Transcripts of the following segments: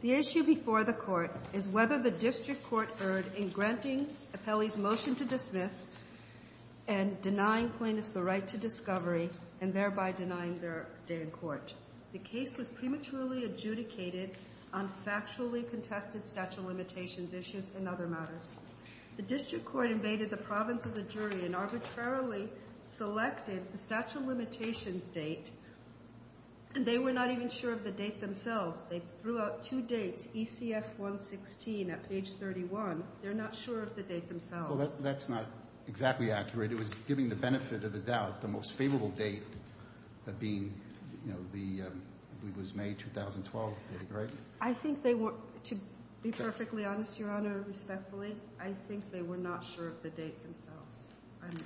The issue before the Court is whether the District Court erred in granting Appelli's motion to dismiss, and denying plaintiffs the right to discovery, and thereby denying their day in court. The case was prematurely adjudicated on factually contested statute of limitations issues and other matters. The District Court invaded the province of the jury and arbitrarily selected the statute of limitations date, and they were not even sure of the date themselves. They threw out two dates, ECF 116 at page 31. They're not sure of the date themselves. Breyer. Well, that's not exactly accurate. It was giving the benefit of the doubt the most favorable date of being, you know, the, it was May 2012, right? Royce. I think they were, to be perfectly honest, Your Honor, respectfully, I think they were not sure of the date themselves. Breyer.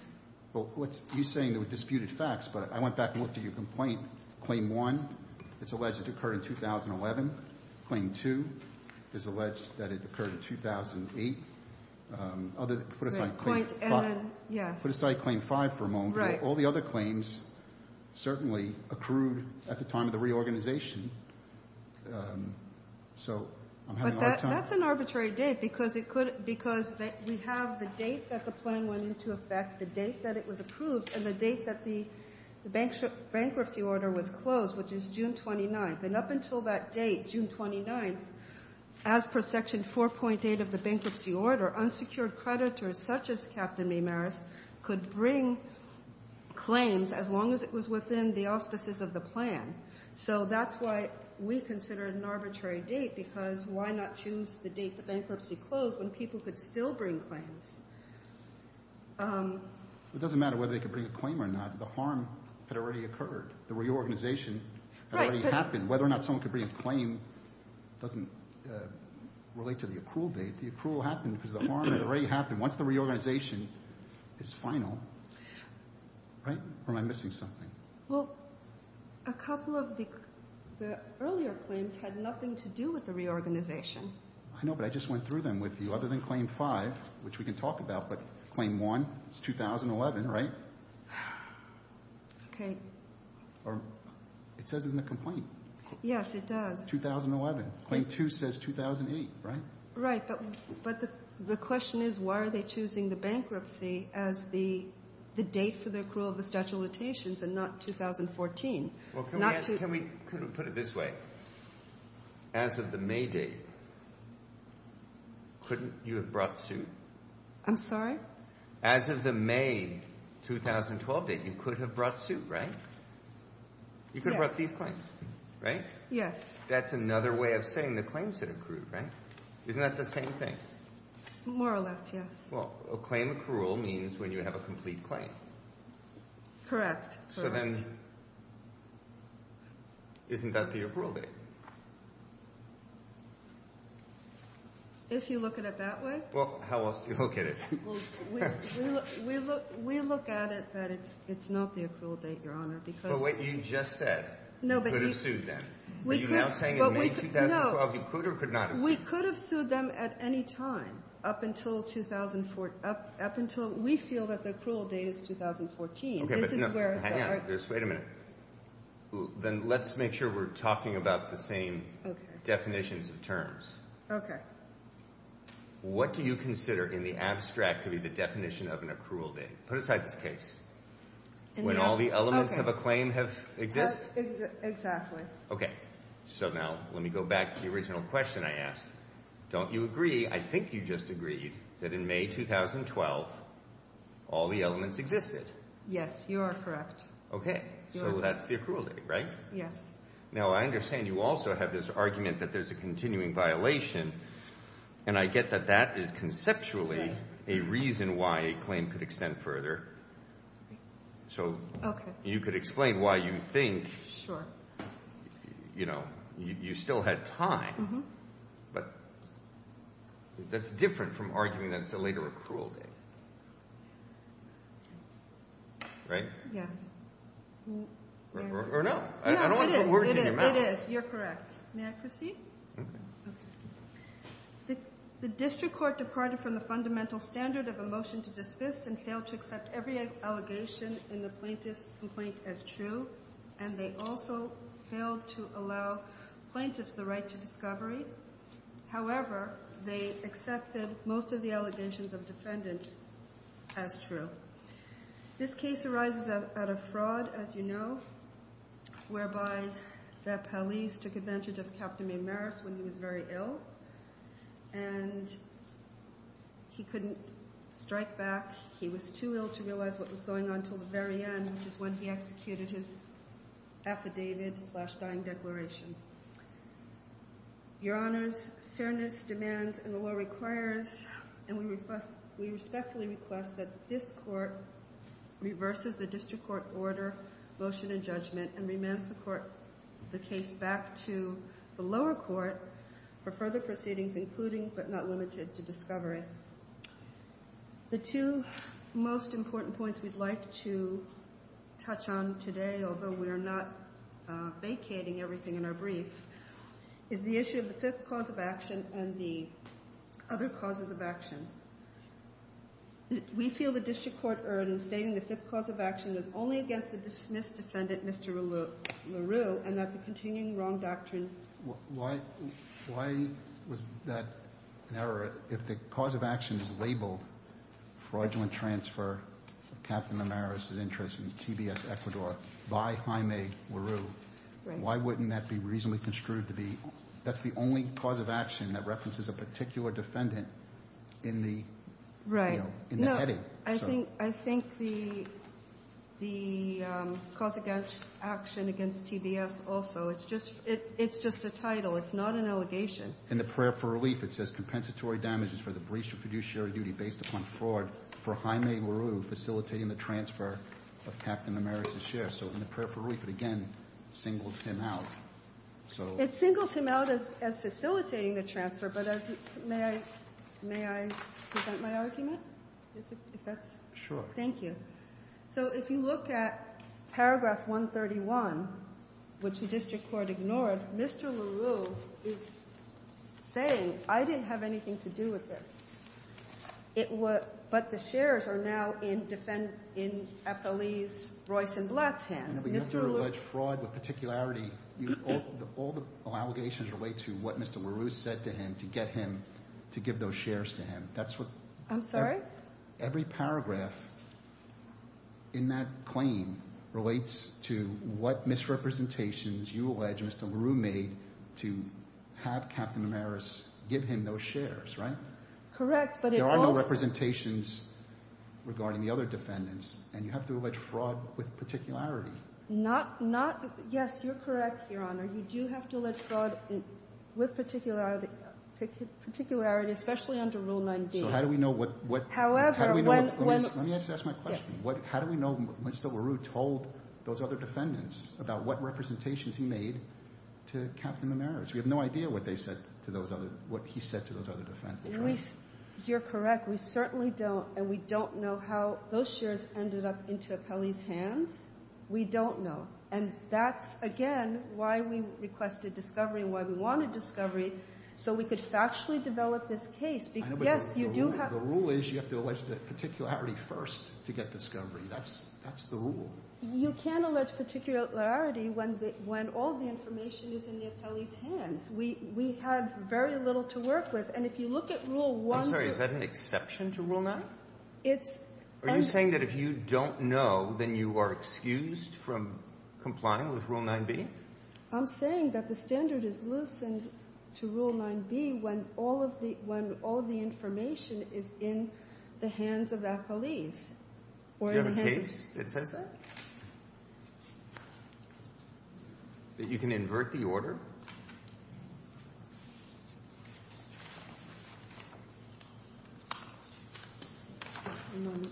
Well, you're saying there were disputed facts, but I went back and looked at your complaint. Claim 1, it's alleged it occurred in 2011. Claim 2 is alleged that it occurred in 2008. Put aside claim 5 for a moment, but all the other claims certainly accrued at the time of the reorganization. So I'm having a hard time. Royce. But that's an arbitrary date, because we have the date that the plan went into effect, the date that it was approved, and the date that the bankruptcy order was closed, which is June 29th. And up until that date, June 29th, as per Section 4.8 of the bankruptcy order, unsecured creditors, such as Captain Maymaris, could bring claims as long as it was within the auspices of the plan. So that's why we considered an arbitrary date, because why not choose the date the bankruptcy closed when people could still bring claims? Breyer. It doesn't matter whether they could bring a claim or not. The harm had already occurred. The reorganization had already happened. Whether or not someone could bring a claim doesn't relate to the accrual date. The accrual happened because the harm had already happened. Once the reorganization is final, right? Or am I missing something? Royce. Well, a couple of the earlier claims had nothing to do with the reorganization. Breyer. I know, but I just went through them with you. Other than claim 5, which we can talk about, but claim 1, it's 2011, right? Royce. Okay. Breyer. It says in the complaint. Royce. Yes, it does. Breyer. 2011. Claim 2 says 2008, right? Royce. Right, but the question is, why are they choosing the bankruptcy as the date for the accrual of the statute of limitations and not 2014? Breyer. Well, can we put it this way? As of the May date, couldn't you have brought suit? Royce. I'm sorry? Breyer. As of the May 2012 date, you could have brought suit, right? Royce. Yes. Breyer. That's another way of saying the claims had accrued, right? Isn't that the same thing? Royce. More or less, yes. Breyer. Well, a claim accrual means when you have a complete claim. Royce. Correct. Breyer. So then, isn't that the accrual date? Royce. If you look at it that way? Breyer. Well, how else do you look at it? Royce. We look at it that it's not the accrual date, Your Honor, because Breyer. But what you just said. Royce. You could have sued them. Royce. Are you now saying in May 2012 you could or could not have sued them? Royce. We could have sued them at any time up until we feel that the accrual date is 2014. Breyer. Hang on. Just wait a minute. Then let's make sure we're talking about the same definitions and terms. Royce. Okay. Breyer. What do you consider in the abstract to be the definition of an accrual date? Put aside this case. Royce. Okay. Breyer. When all the elements of a claim have existed? Royce. Exactly. Breyer. Okay. So now let me go back to the original question I asked. Don't you agree, I think you just agreed, that in May 2012 all the elements existed? Royce. Yes, you are correct. Breyer. Okay. So that's the accrual date, right? Royce. Yes. Breyer. Now, I understand you also have this argument that there's a continuing violation. And I get that that is conceptually a reason why a claim could extend further. Royce. Okay. Breyer. So you could explain why you think Royce. Sure. Breyer. You know, you still had time. Royce. Mm-hmm. Breyer. But that's different from arguing that it's a later accrual date. Right? Royce. Yes. Breyer. Or no. Royce. Yeah, it is. Breyer. I don't want to put words in your mouth. Royce. It is. You're correct. May I proceed? Breyer. Okay. Royce. Okay. Royce. The district court departed from the fundamental standard of a motion to dismiss and failed to accept every allegation in the plaintiff's complaint as true. And they also failed to allow plaintiffs the right to discovery. However, they accepted most of the allegations of defendants as true. This case arises out of fraud, as you know, whereby the police took advantage of Captain Maymaris when he was very ill. And he couldn't strike back. He was too ill to realize what was going on until the very end, which is when he executed his affidavit slash dying declaration. Your Honors, fairness, demands, and the law requires, and we respectfully request, that this court reverses the district court order motion in judgment and remands the case back to the lower court for further proceedings, including but not limited to discovery. The two most important points we'd like to touch on today, although we are not vacating everything in our brief, is the issue of the fifth cause of action and the other causes of action. We feel the district court urn stating the fifth cause of action is only against the dismissed defendant, Mr. LaRue, and that the continuing wrong doctrine... The cause of action is labeled fraudulent transfer of Captain Maymaris' interest in TBS-Ecuador by Jaime LaRue. Why wouldn't that be reasonably construed to be... That's the only cause of action that references a particular defendant in the heading. I think the cause against action against TBS also, it's just a title. It's not an allegation. In the prayer for relief, it says compensatory damages for the breach of fiduciary duty based upon fraud for Jaime LaRue facilitating the transfer of Captain Maymaris' share. So in the prayer for relief, it again singles him out. It singles him out as facilitating the transfer, but may I present my argument? Sure. Thank you. So if you look at paragraph 131, which the district court ignored, Mr. LaRue is saying, I didn't have anything to do with this. But the shares are now in defend... in FLE's Royce and Blatt's hands. But you have to allege fraud with particularity. All the allegations relate to what Mr. LaRue said to him to get him to give those shares to him. That's what... I'm sorry? Every paragraph in that claim relates to what misrepresentations you allege Mr. LaRue made to have Captain Maymaris give him those shares, right? Correct, but it also... There are no representations regarding the other defendants, and you have to allege fraud with particularity. Not... not... yes, you're correct, Your Honor. You do have to allege fraud with particularity, especially under Rule 9b. So how do we know what... However, when... Let me ask my question. Yes. How do we know when Mr. LaRue told those other defendants about what to Captain Maymaris? We have no idea what they said to those other... what he said to those other defendants, right? You're correct. We certainly don't, and we don't know how those shares ended up into Apeli's hands. We don't know. And that's, again, why we requested discovery and why we wanted discovery so we could factually develop this case. Yes, you do have... The rule is you have to allege particularity first to get discovery. That's... that's the rule. You can't allege particularity when the... when all the information is in the Apeli's hands. We... we had very little to work with. And if you look at Rule 1... I'm sorry, is that an exception to Rule 9? It's... Are you saying that if you don't know, then you are excused from complying with Rule 9b? I'm saying that the standard is loosened to Rule 9b when all of the... when all the information is in the hands of Apeli's. Do you have a case that says that? That you can invert the order? I don't know.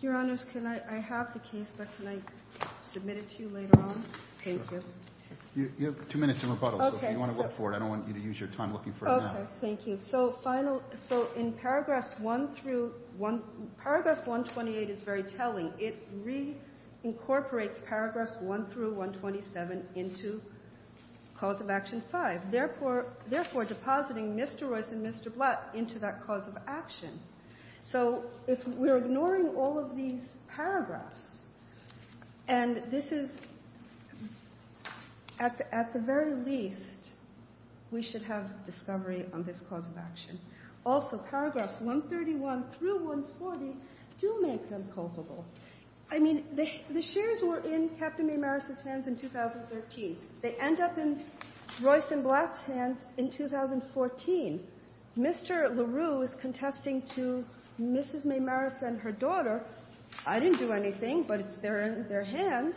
Your Honors, can I... I have the case, but can I submit it to you later on? Thank you. You have two minutes in rebuttal, so if you want to look for it, I don't want you to use your time looking for it now. Okay. Thank you. So final... So in Paragraphs 1 through 1... Paragraph 128 is very telling. It reincorporates Paragraphs 1 through 127 into Cause of Action 5. Therefore, depositing Mr. Royce and Mr. Blatt into that Cause of Action. So if we're ignoring all of these paragraphs, and this is... At the very least, we should have discovery on this Cause of Action. Also, Paragraphs 131 through 140 do make them culpable. I mean, the shares were in Captain Maymaris' hands in 2013. They end up in Royce and Blatt's hands in 2014. Mr. LaRue is contesting to Mrs. Maymaris and her daughter. I didn't do anything, but it's there in their hands.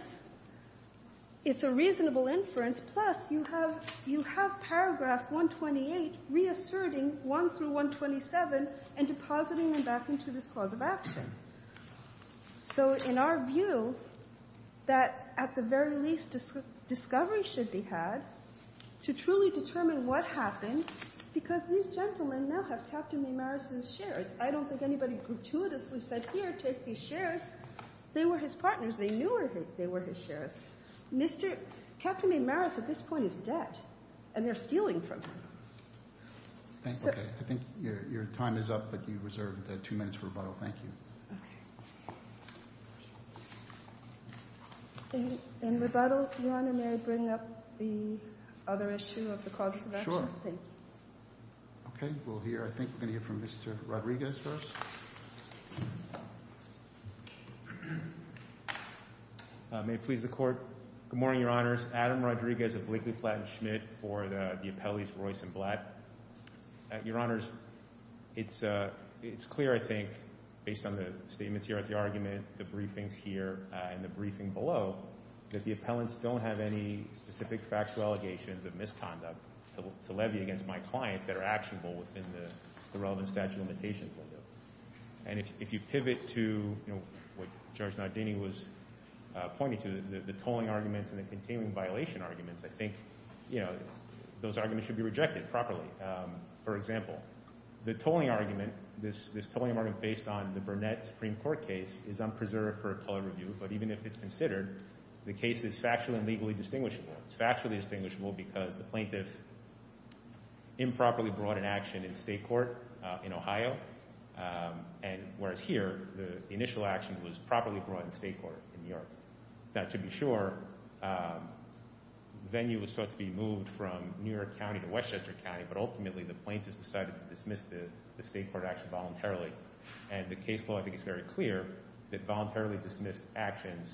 It's a reasonable inference. Plus, you have Paragraph 128 reasserting 1 through 127 and depositing them back into this Cause of Action. So in our view, at the very least, discovery should be had to truly determine what happened because these gentlemen now have Captain Maymaris' shares. I don't think anybody gratuitously said, Here, take these shares. They were his partners. They knew they were his shares. Captain Maymaris, at this point, is dead, and they're stealing from him. I think your time is up, but you reserved two minutes for rebuttal. Thank you. Okay. In rebuttal, Your Honor, may I bring up the other issue of the Cause of Action? Sure. Thank you. Okay. We'll hear, I think we're going to hear from Mr. Rodriguez first. May it please the Court. Good morning, Your Honors. Adam Rodriguez of Blakely, Blatt & Schmidt for the appellees Royce and Blatt. Your Honors, it's clear, I think, based on the statements here at the argument, the briefings here, and the briefing below, that the appellants don't have any specific factual allegations of misconduct to levy against my clients that are actionable within the relevant statute of limitations window. And if you pivot to what Judge Nardini was pointing to, the tolling arguments and the continuing violation arguments, I think those arguments should be rejected properly. For example, the tolling argument, this tolling argument based on the Burnett Supreme Court case is unpreserved for appellate review, but even if it's considered, the case is factually and legally distinguishable. It's factually distinguishable because the plaintiff improperly brought an action in state court in Ohio, whereas here, the initial action was properly brought in state court in New York. Now, to be sure, the venue was thought to be moved from New York County to Westchester County, but ultimately the plaintiff decided to dismiss the state court action voluntarily. And the case law, I think, is very clear that voluntarily dismissed actions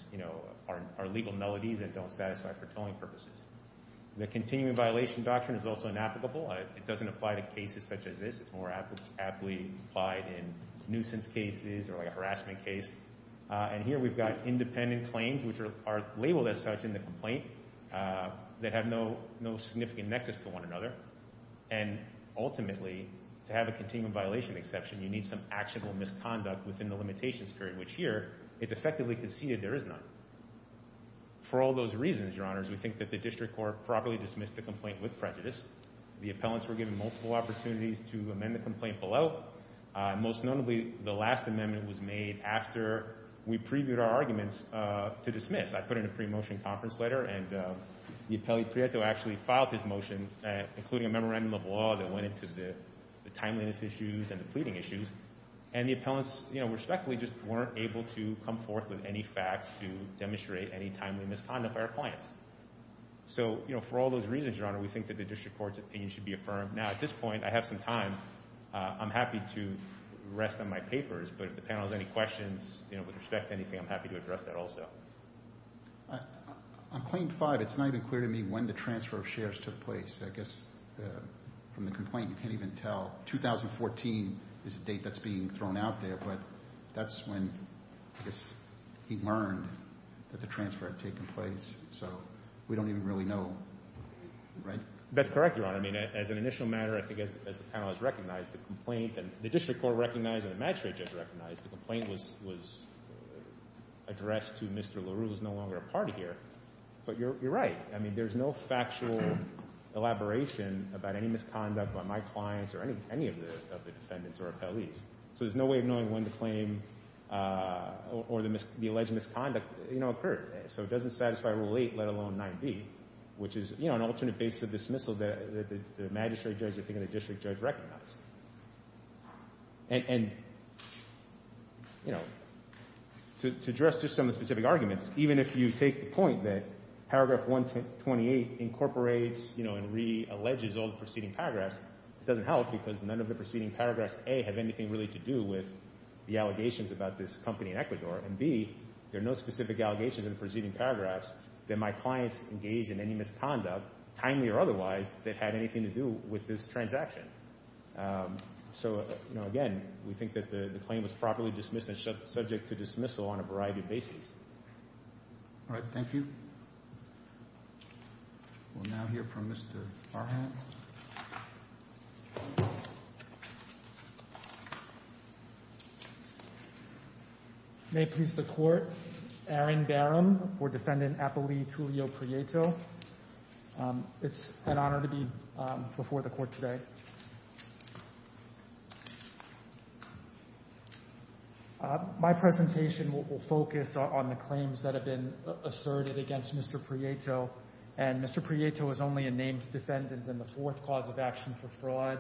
are legal melodies and don't satisfy for tolling purposes. The continuing violation doctrine is also inapplicable. It doesn't apply to cases such as this. It's more aptly applied in nuisance cases or a harassment case. And here we've got independent claims which are labeled as such in the complaint that have no significant nexus to one another. And ultimately, to have a continuing violation exception, you need some actionable misconduct within the limitations period, which here, it's effectively conceded there is none. For all those reasons, Your Honors, we think that the district court properly dismissed the complaint with prejudice. The appellants were given multiple opportunities to amend the complaint below. Most notably, the last amendment was made after we previewed our arguments to dismiss. I put in a pre-motion conference letter and the appellate Prieto actually filed his motion including a memorandum of law that went into the timeliness issues and the pleading issues. And the appellants, respectfully, just weren't able to come forth with any facts to demonstrate any timely misconduct by our clients. So, for all those reasons, Your Honor, we think that the district court's opinion should be affirmed. Now, at this point, I have some time. I'm happy to rest on my papers, but if the panel has any questions, with respect to anything, I'm happy to address that also. On Claim 5, it's not even clear to me when the transfer of shares took place. I guess, from the complaint, you can't even tell. 2014 is the date that's being thrown out there, but that's when, I guess, he learned that the transfer had taken place. So, we don't even really know, right? That's correct, Your Honor. I mean, as an initial matter, I think as the panel has recognized the complaint and the district court recognized and the magistrate judge recognized the complaint was addressed to Mr. LaRue who's no longer a part of here. But you're right. I mean, there's no factual elaboration about any misconduct by my clients or any of the defendants or appellees. So, there's no way of knowing when the claim or the alleged misconduct occurred. So, it doesn't satisfy Rule 8, let alone 9b, which is an alternate basis of dismissal that the magistrate judge or the district judge recognized. And, you know, to address just some of the specific arguments, even if you take the point that paragraph 128 incorporates and re-alleges all the preceding paragraphs, it doesn't help because none of the preceding paragraphs, A, have anything really to do with the allegations about this company in Ecuador and, B, there are no specific allegations in the preceding paragraphs that my clients engaged in any misconduct, timely or otherwise, that had anything to do with this transaction. So, you know, again, we think that the claim was properly dismissed and subject to dismissal on a variety of bases. All right, thank you. We'll now hear from Mr. Farhan. May it please the Court, Aaron Barham for Defendant Appellee Tulio Prieto. It's an honor to be before the Court today. Thank you. My presentation will focus on the claims that have been asserted against Mr. Prieto and Mr. Prieto is only a named defendant in the fourth cause of action for fraud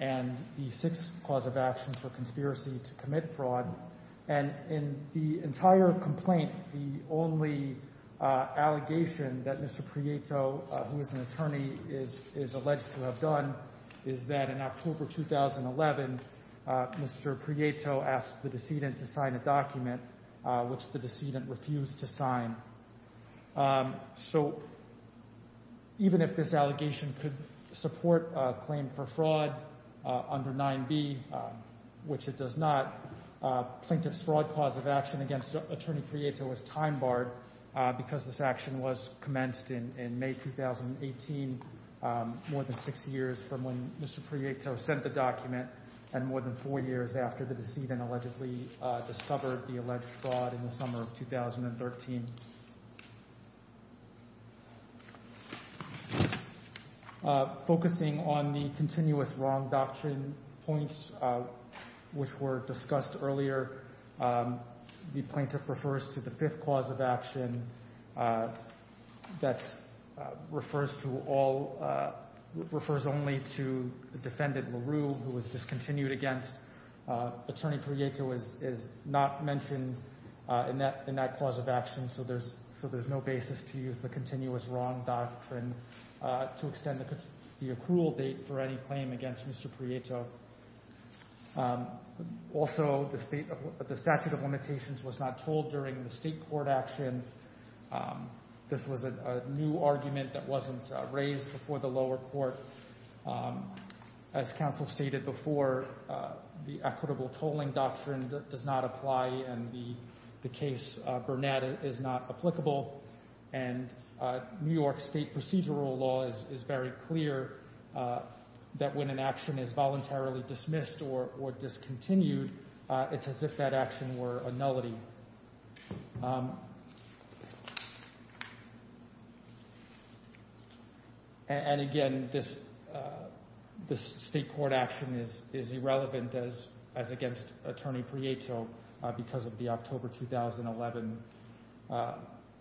and the sixth cause of action for conspiracy to commit fraud. And in the entire complaint, the only allegation that Mr. Prieto, who is an attorney, is alleged to have done is that in October 2011, Mr. Prieto asked the decedent to sign a document which the decedent refused to sign. So, even if this allegation could support a claim for fraud under 9b, which it does not, plaintiff's fraud cause of action against Attorney Prieto is time barred because this action was commenced in May 2018, more than six years from when Mr. Prieto sent the document and more than four years after the decedent allegedly discovered the alleged fraud in the summer of 2013. Focusing on the continuous wrong doctrine points which were discussed earlier, the plaintiff refers to the fifth cause of action that refers to all, refers only to defendant LaRue who was discontinued against. Attorney Prieto is not mentioned in that cause of action so there's no basis to use the continuous wrong doctrine to extend the accrual date for any claim against Mr. Prieto. Also, the statute of limitations was not told during the state court action and this was a new argument that wasn't raised before the lower court. As counsel stated before, the equitable tolling doctrine does not apply and the case Bernetta is not applicable and New York state procedural law is very clear that when an action is voluntarily dismissed or discontinued, it's as if that action were a nullity. And again, this state court action is irrelevant as against Attorney Prieto because of the October 2011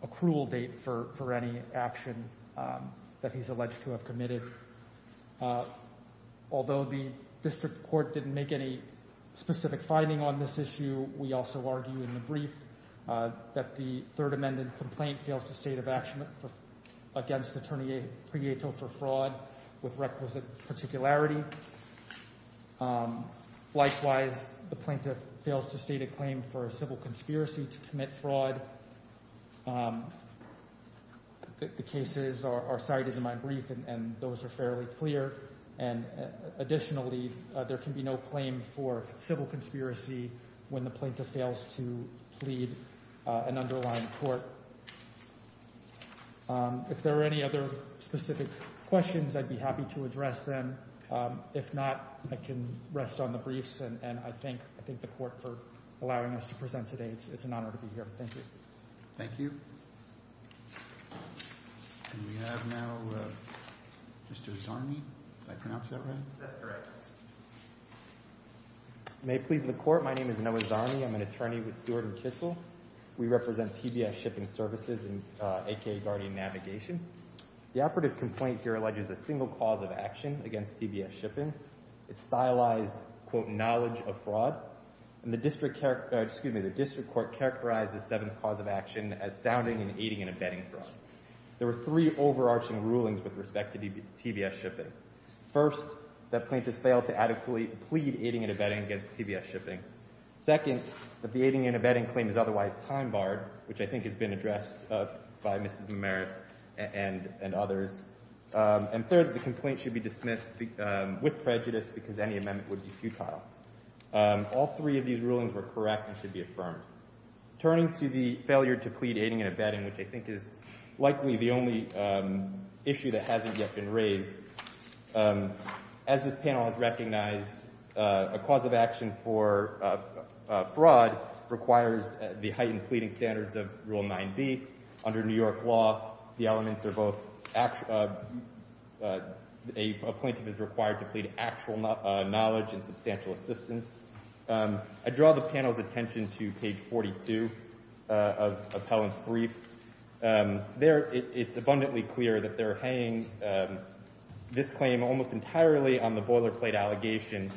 accrual date for any action that he's alleged to have committed. Although the district court didn't make any specific finding on this issue, we also argue in the brief that the third amended complaint fails to state of action against Attorney Prieto for fraud with requisite particularity. Likewise, the plaintiff fails to state a claim for a civil conspiracy to commit fraud. The cases are cited in my brief and those are fairly clear and additionally, there can be no claim for civil conspiracy when the plaintiff fails to plead an underlying court. If there are any other specific questions, I'd be happy to address them. If not, I can rest on the briefs and I thank the court for allowing us to present today. It's an honor to be here. Thank you. Thank you. We have now Mr. Zarni. Did I pronounce that right? That's correct. May it please the court, my name is Noah Zarni. I'm an attorney with Seward & Kissel. We represent TBS Shipping Services aka Guardian Navigation. The operative complaint here alleges a single cause of action against TBS Shipping. It's stylized, quote, knowledge of fraud and the district, excuse me, the district court characterized the seventh cause of action as sounding and aiding and abetting fraud. There were three overarching rulings with respect to TBS Shipping. First, the plaintiff fails to adequately plead aiding and abetting against TBS Shipping. Second, that the aiding and abetting claim is otherwise time-barred, which I think has been addressed by Mrs. Mamaris and others. And third, the complaint should be dismissed with prejudice because any amendment would be futile. All three of these rulings were correct and should be affirmed. Turning to the failure to plead aiding and abetting, which I think is likely the only issue that hasn't yet been raised, as this panel has recognized, a cause of action for fraud requires the heightened pleading standards of Rule 9b. Under New York law, the elements are both a plaintiff is required to plead actual knowledge and substantial assistance. I draw the panel's attention to page 42 of Helen's brief. There, it's abundantly clear that they're hanging this claim almost entirely on the boilerplate allegation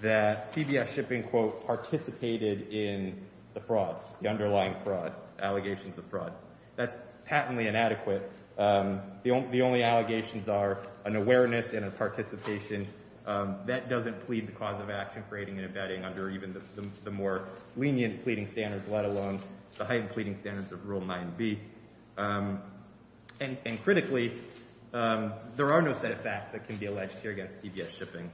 that CBS Shipping, quote, participated in the fraud, the underlying fraud, allegations of fraud. That's patently inadequate. The only allegations are an awareness and a participation that doesn't plead the cause of action for aiding and abetting under even the more lenient pleading standards, let alone the heightened pleading standards of Rule 9b. And critically, there are no set of facts that can be alleged here against CBS Shipping.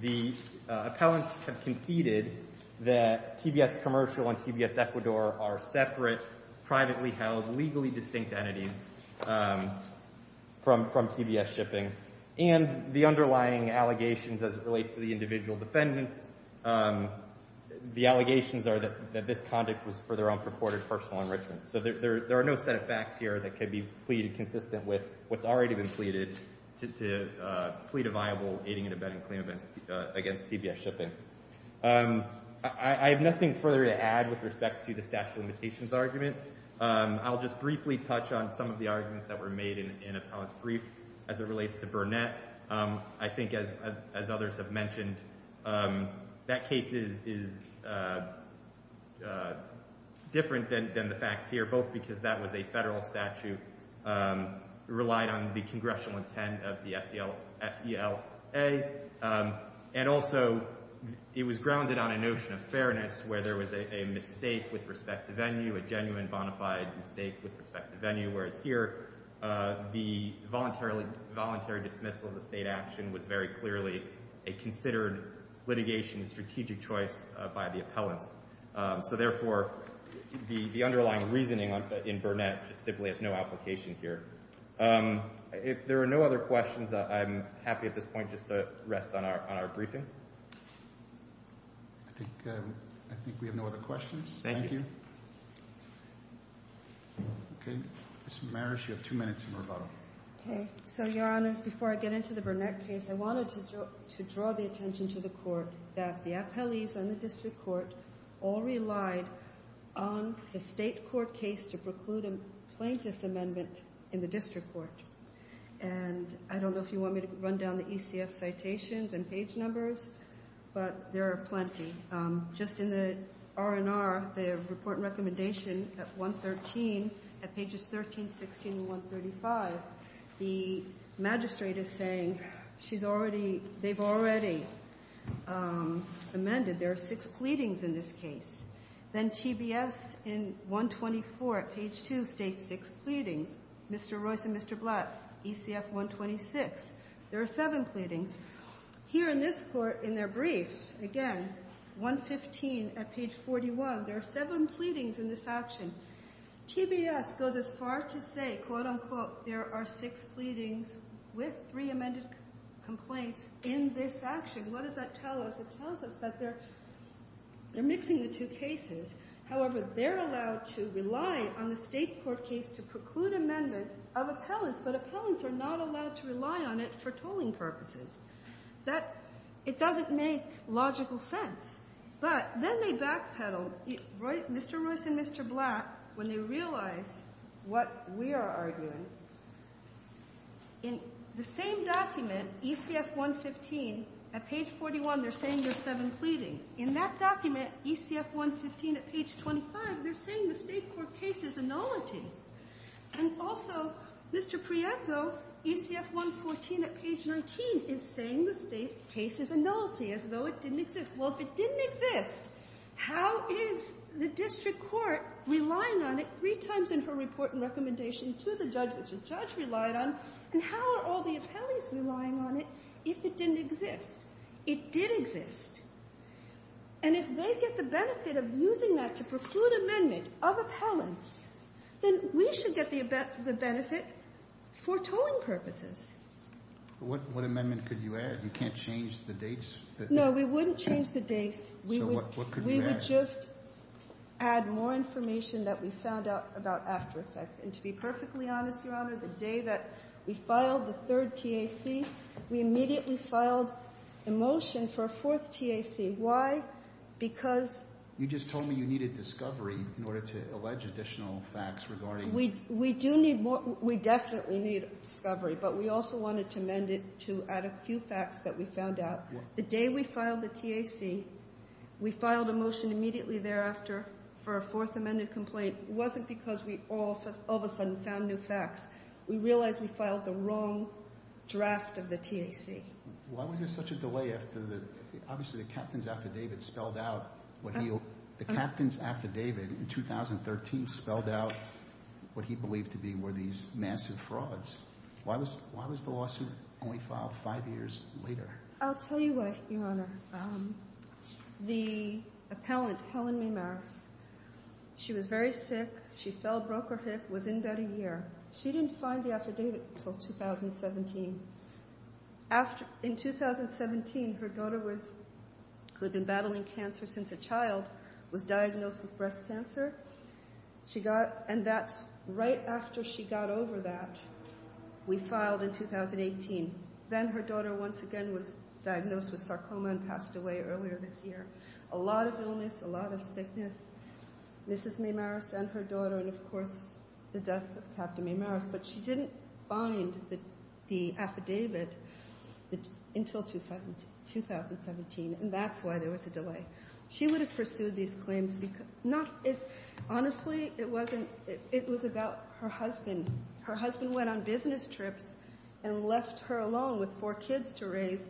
The appellants have conceded that TBS Commercial and TBS Ecuador are separate, privately held, legally distinct entities from TBS Shipping. And the underlying allegations as it relates to the individual defendants, the allegations are that this conduct was for their own purported personal enrichment. So there are no set of facts here that could be pleaded consistent with what's already been pleaded to plead a viable aiding and abetting claim against TBS Shipping. I have nothing further to add with respect to the statute of limitations argument. I'll just briefly touch on some of the arguments that were made in appellant's brief as it relates to Burnett. I think, as others have mentioned, that case is different than the facts here both because that was a federal statute that relied on the congressional intent of the FELA and also it was grounded on a notion of fairness where there was a mistake with respect to venue a genuine bonafide mistake with respect to venue whereas here the voluntary dismissal of the state action was very clearly a considered litigation strategic choice by the appellants. So therefore the underlying reasoning in Burnett just simply has no application here. If there are no other questions I'm happy at this point to rest on our briefing. I think we have no other questions. Thank you. Okay. Ms. Marish, you have two minutes in rebuttal. Okay. So your honor, before I get into the Burnett case I wanted to draw the attention to the court that the appellees and the district court all relied on the state court case to preclude a plaintiff's amendment in the district court. And I don't know if you want me to run down the ECF citations and page numbers but there are plenty. Just in the R&R the report and recommendation at 113 at pages 13, 16, and 135 the magistrate is saying she's already they've already amended there are six pleadings in this case. Then TBS in 124 at page 2 states six pleadings. Mr. Royce and Mr. Blatt ECF 126 there are seven pleadings. Here in this court in their briefs again 115 at page 41 there are seven pleadings in this action. TBS goes as far to say quote unquote there are six pleadings with three amended complaints in this action. What does that tell us? It tells us that they're mixing the two cases. However, they're allowed to rely on the state court case to preclude amendment of appellants but appellants are not allowed to rely on it for tolling purposes. That it doesn't make logical sense. But then they backpedal Mr. Royce and Mr. Blatt when they realize what we are arguing in the same document ECF 115 at page 41 they're saying there's seven pleadings. In that document ECF 115 at page 25 they're saying the state court case is a nullity. And also Mr. Prieto ECF 114 at page 19 is saying the state case is a nullity as though it didn't exist. Well, if it didn't exist how is the district court relying on it three times in her report and recommendation to the judge which the judge relied on and how are all the appellees relying on it if it didn't exist? It did exist. And if they get the benefit of using that to preclude amendment of appellants then we should get the benefit for tolling purposes. But what amendment could you add? You can't change the dates? No, we wouldn't change the dates. So what could you add? We would just add more information that we found out about after effect. And to be perfectly honest Your Honor the day that we filed the third fourth TAC why? Because You just told me you needed discovery in order to allege additional facts regarding We do need we definitely need discovery but we also wanted to amend it to add a few facts that we found out. The day we filed the TAC we filed a motion immediately thereafter for a fourth amended complaint it wasn't because we all of a sudden found new facts we realized we filed the wrong draft of the TAC. Why was there such a delay after the obviously the captain's affidavit spelled out what he what he believed to be were these massive frauds? Why was the lawsuit only filed five years later? I'll tell you what Your Honor the appellant Ms. Helen Max she was very sick she fell broke her hip was in bed a year she didn't find the affidavit until 2017 after in 2017 her daughter was who had been battling cancer since a child was diagnosed with breast cancer she got and that's right after she got over that we filed in 2018 then her daughter once again was diagnosed with sarcoma and passed away earlier this year a lot of illness a lot of sickness Mrs. Maymaris and her daughter and of course the death of Captain Maymaris but she didn't find the affidavit until 2017 and that's why there was a delay she would have pursued these claims not if honestly it wasn't it was about her husband her husband went on business trips and left her alone with four kids to raise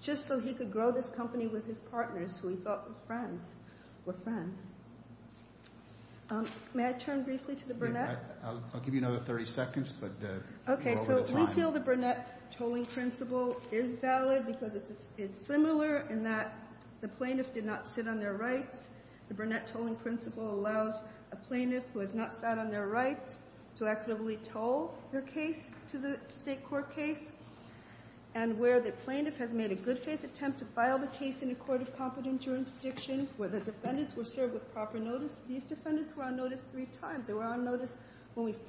just so he could grow this company with his partners who he thought were friends May I turn briefly to the Burnett? I'll give you another 30 seconds but we feel the Burnett tolling principle is valid because it is similar in that the plaintiff did not sit on their rights the Burnett tolling principle allows a plaintiff who has not sat on their rights to equitably toll her case to the state court case and where the plaintiff has made a good faith attempt to file the case in a court of competence jurisdiction where the defendants were served with proper notice these defendants were on notice three times they were on notice when we did not say it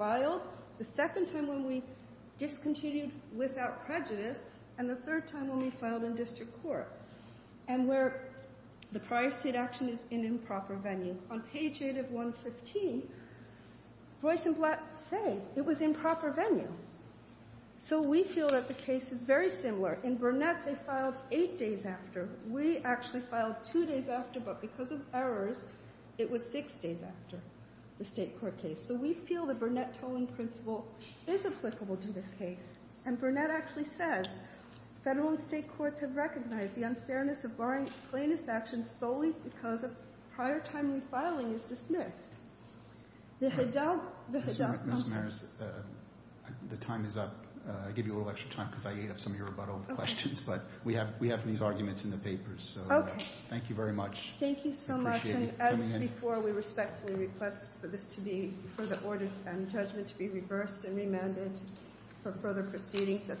was improper venue so we feel that the case is very similar in Burnett they filed eight days after we actually filed two days after but because of errors it was the time is up I give you a little extra time because I ate up some of your rebuttal questions but we have these arguments in the papers so thank you very much thank you so much and as before we respectfully request for this to be further ordered and judgment to be reversed and remanded for further proceedings at the meeting adjourned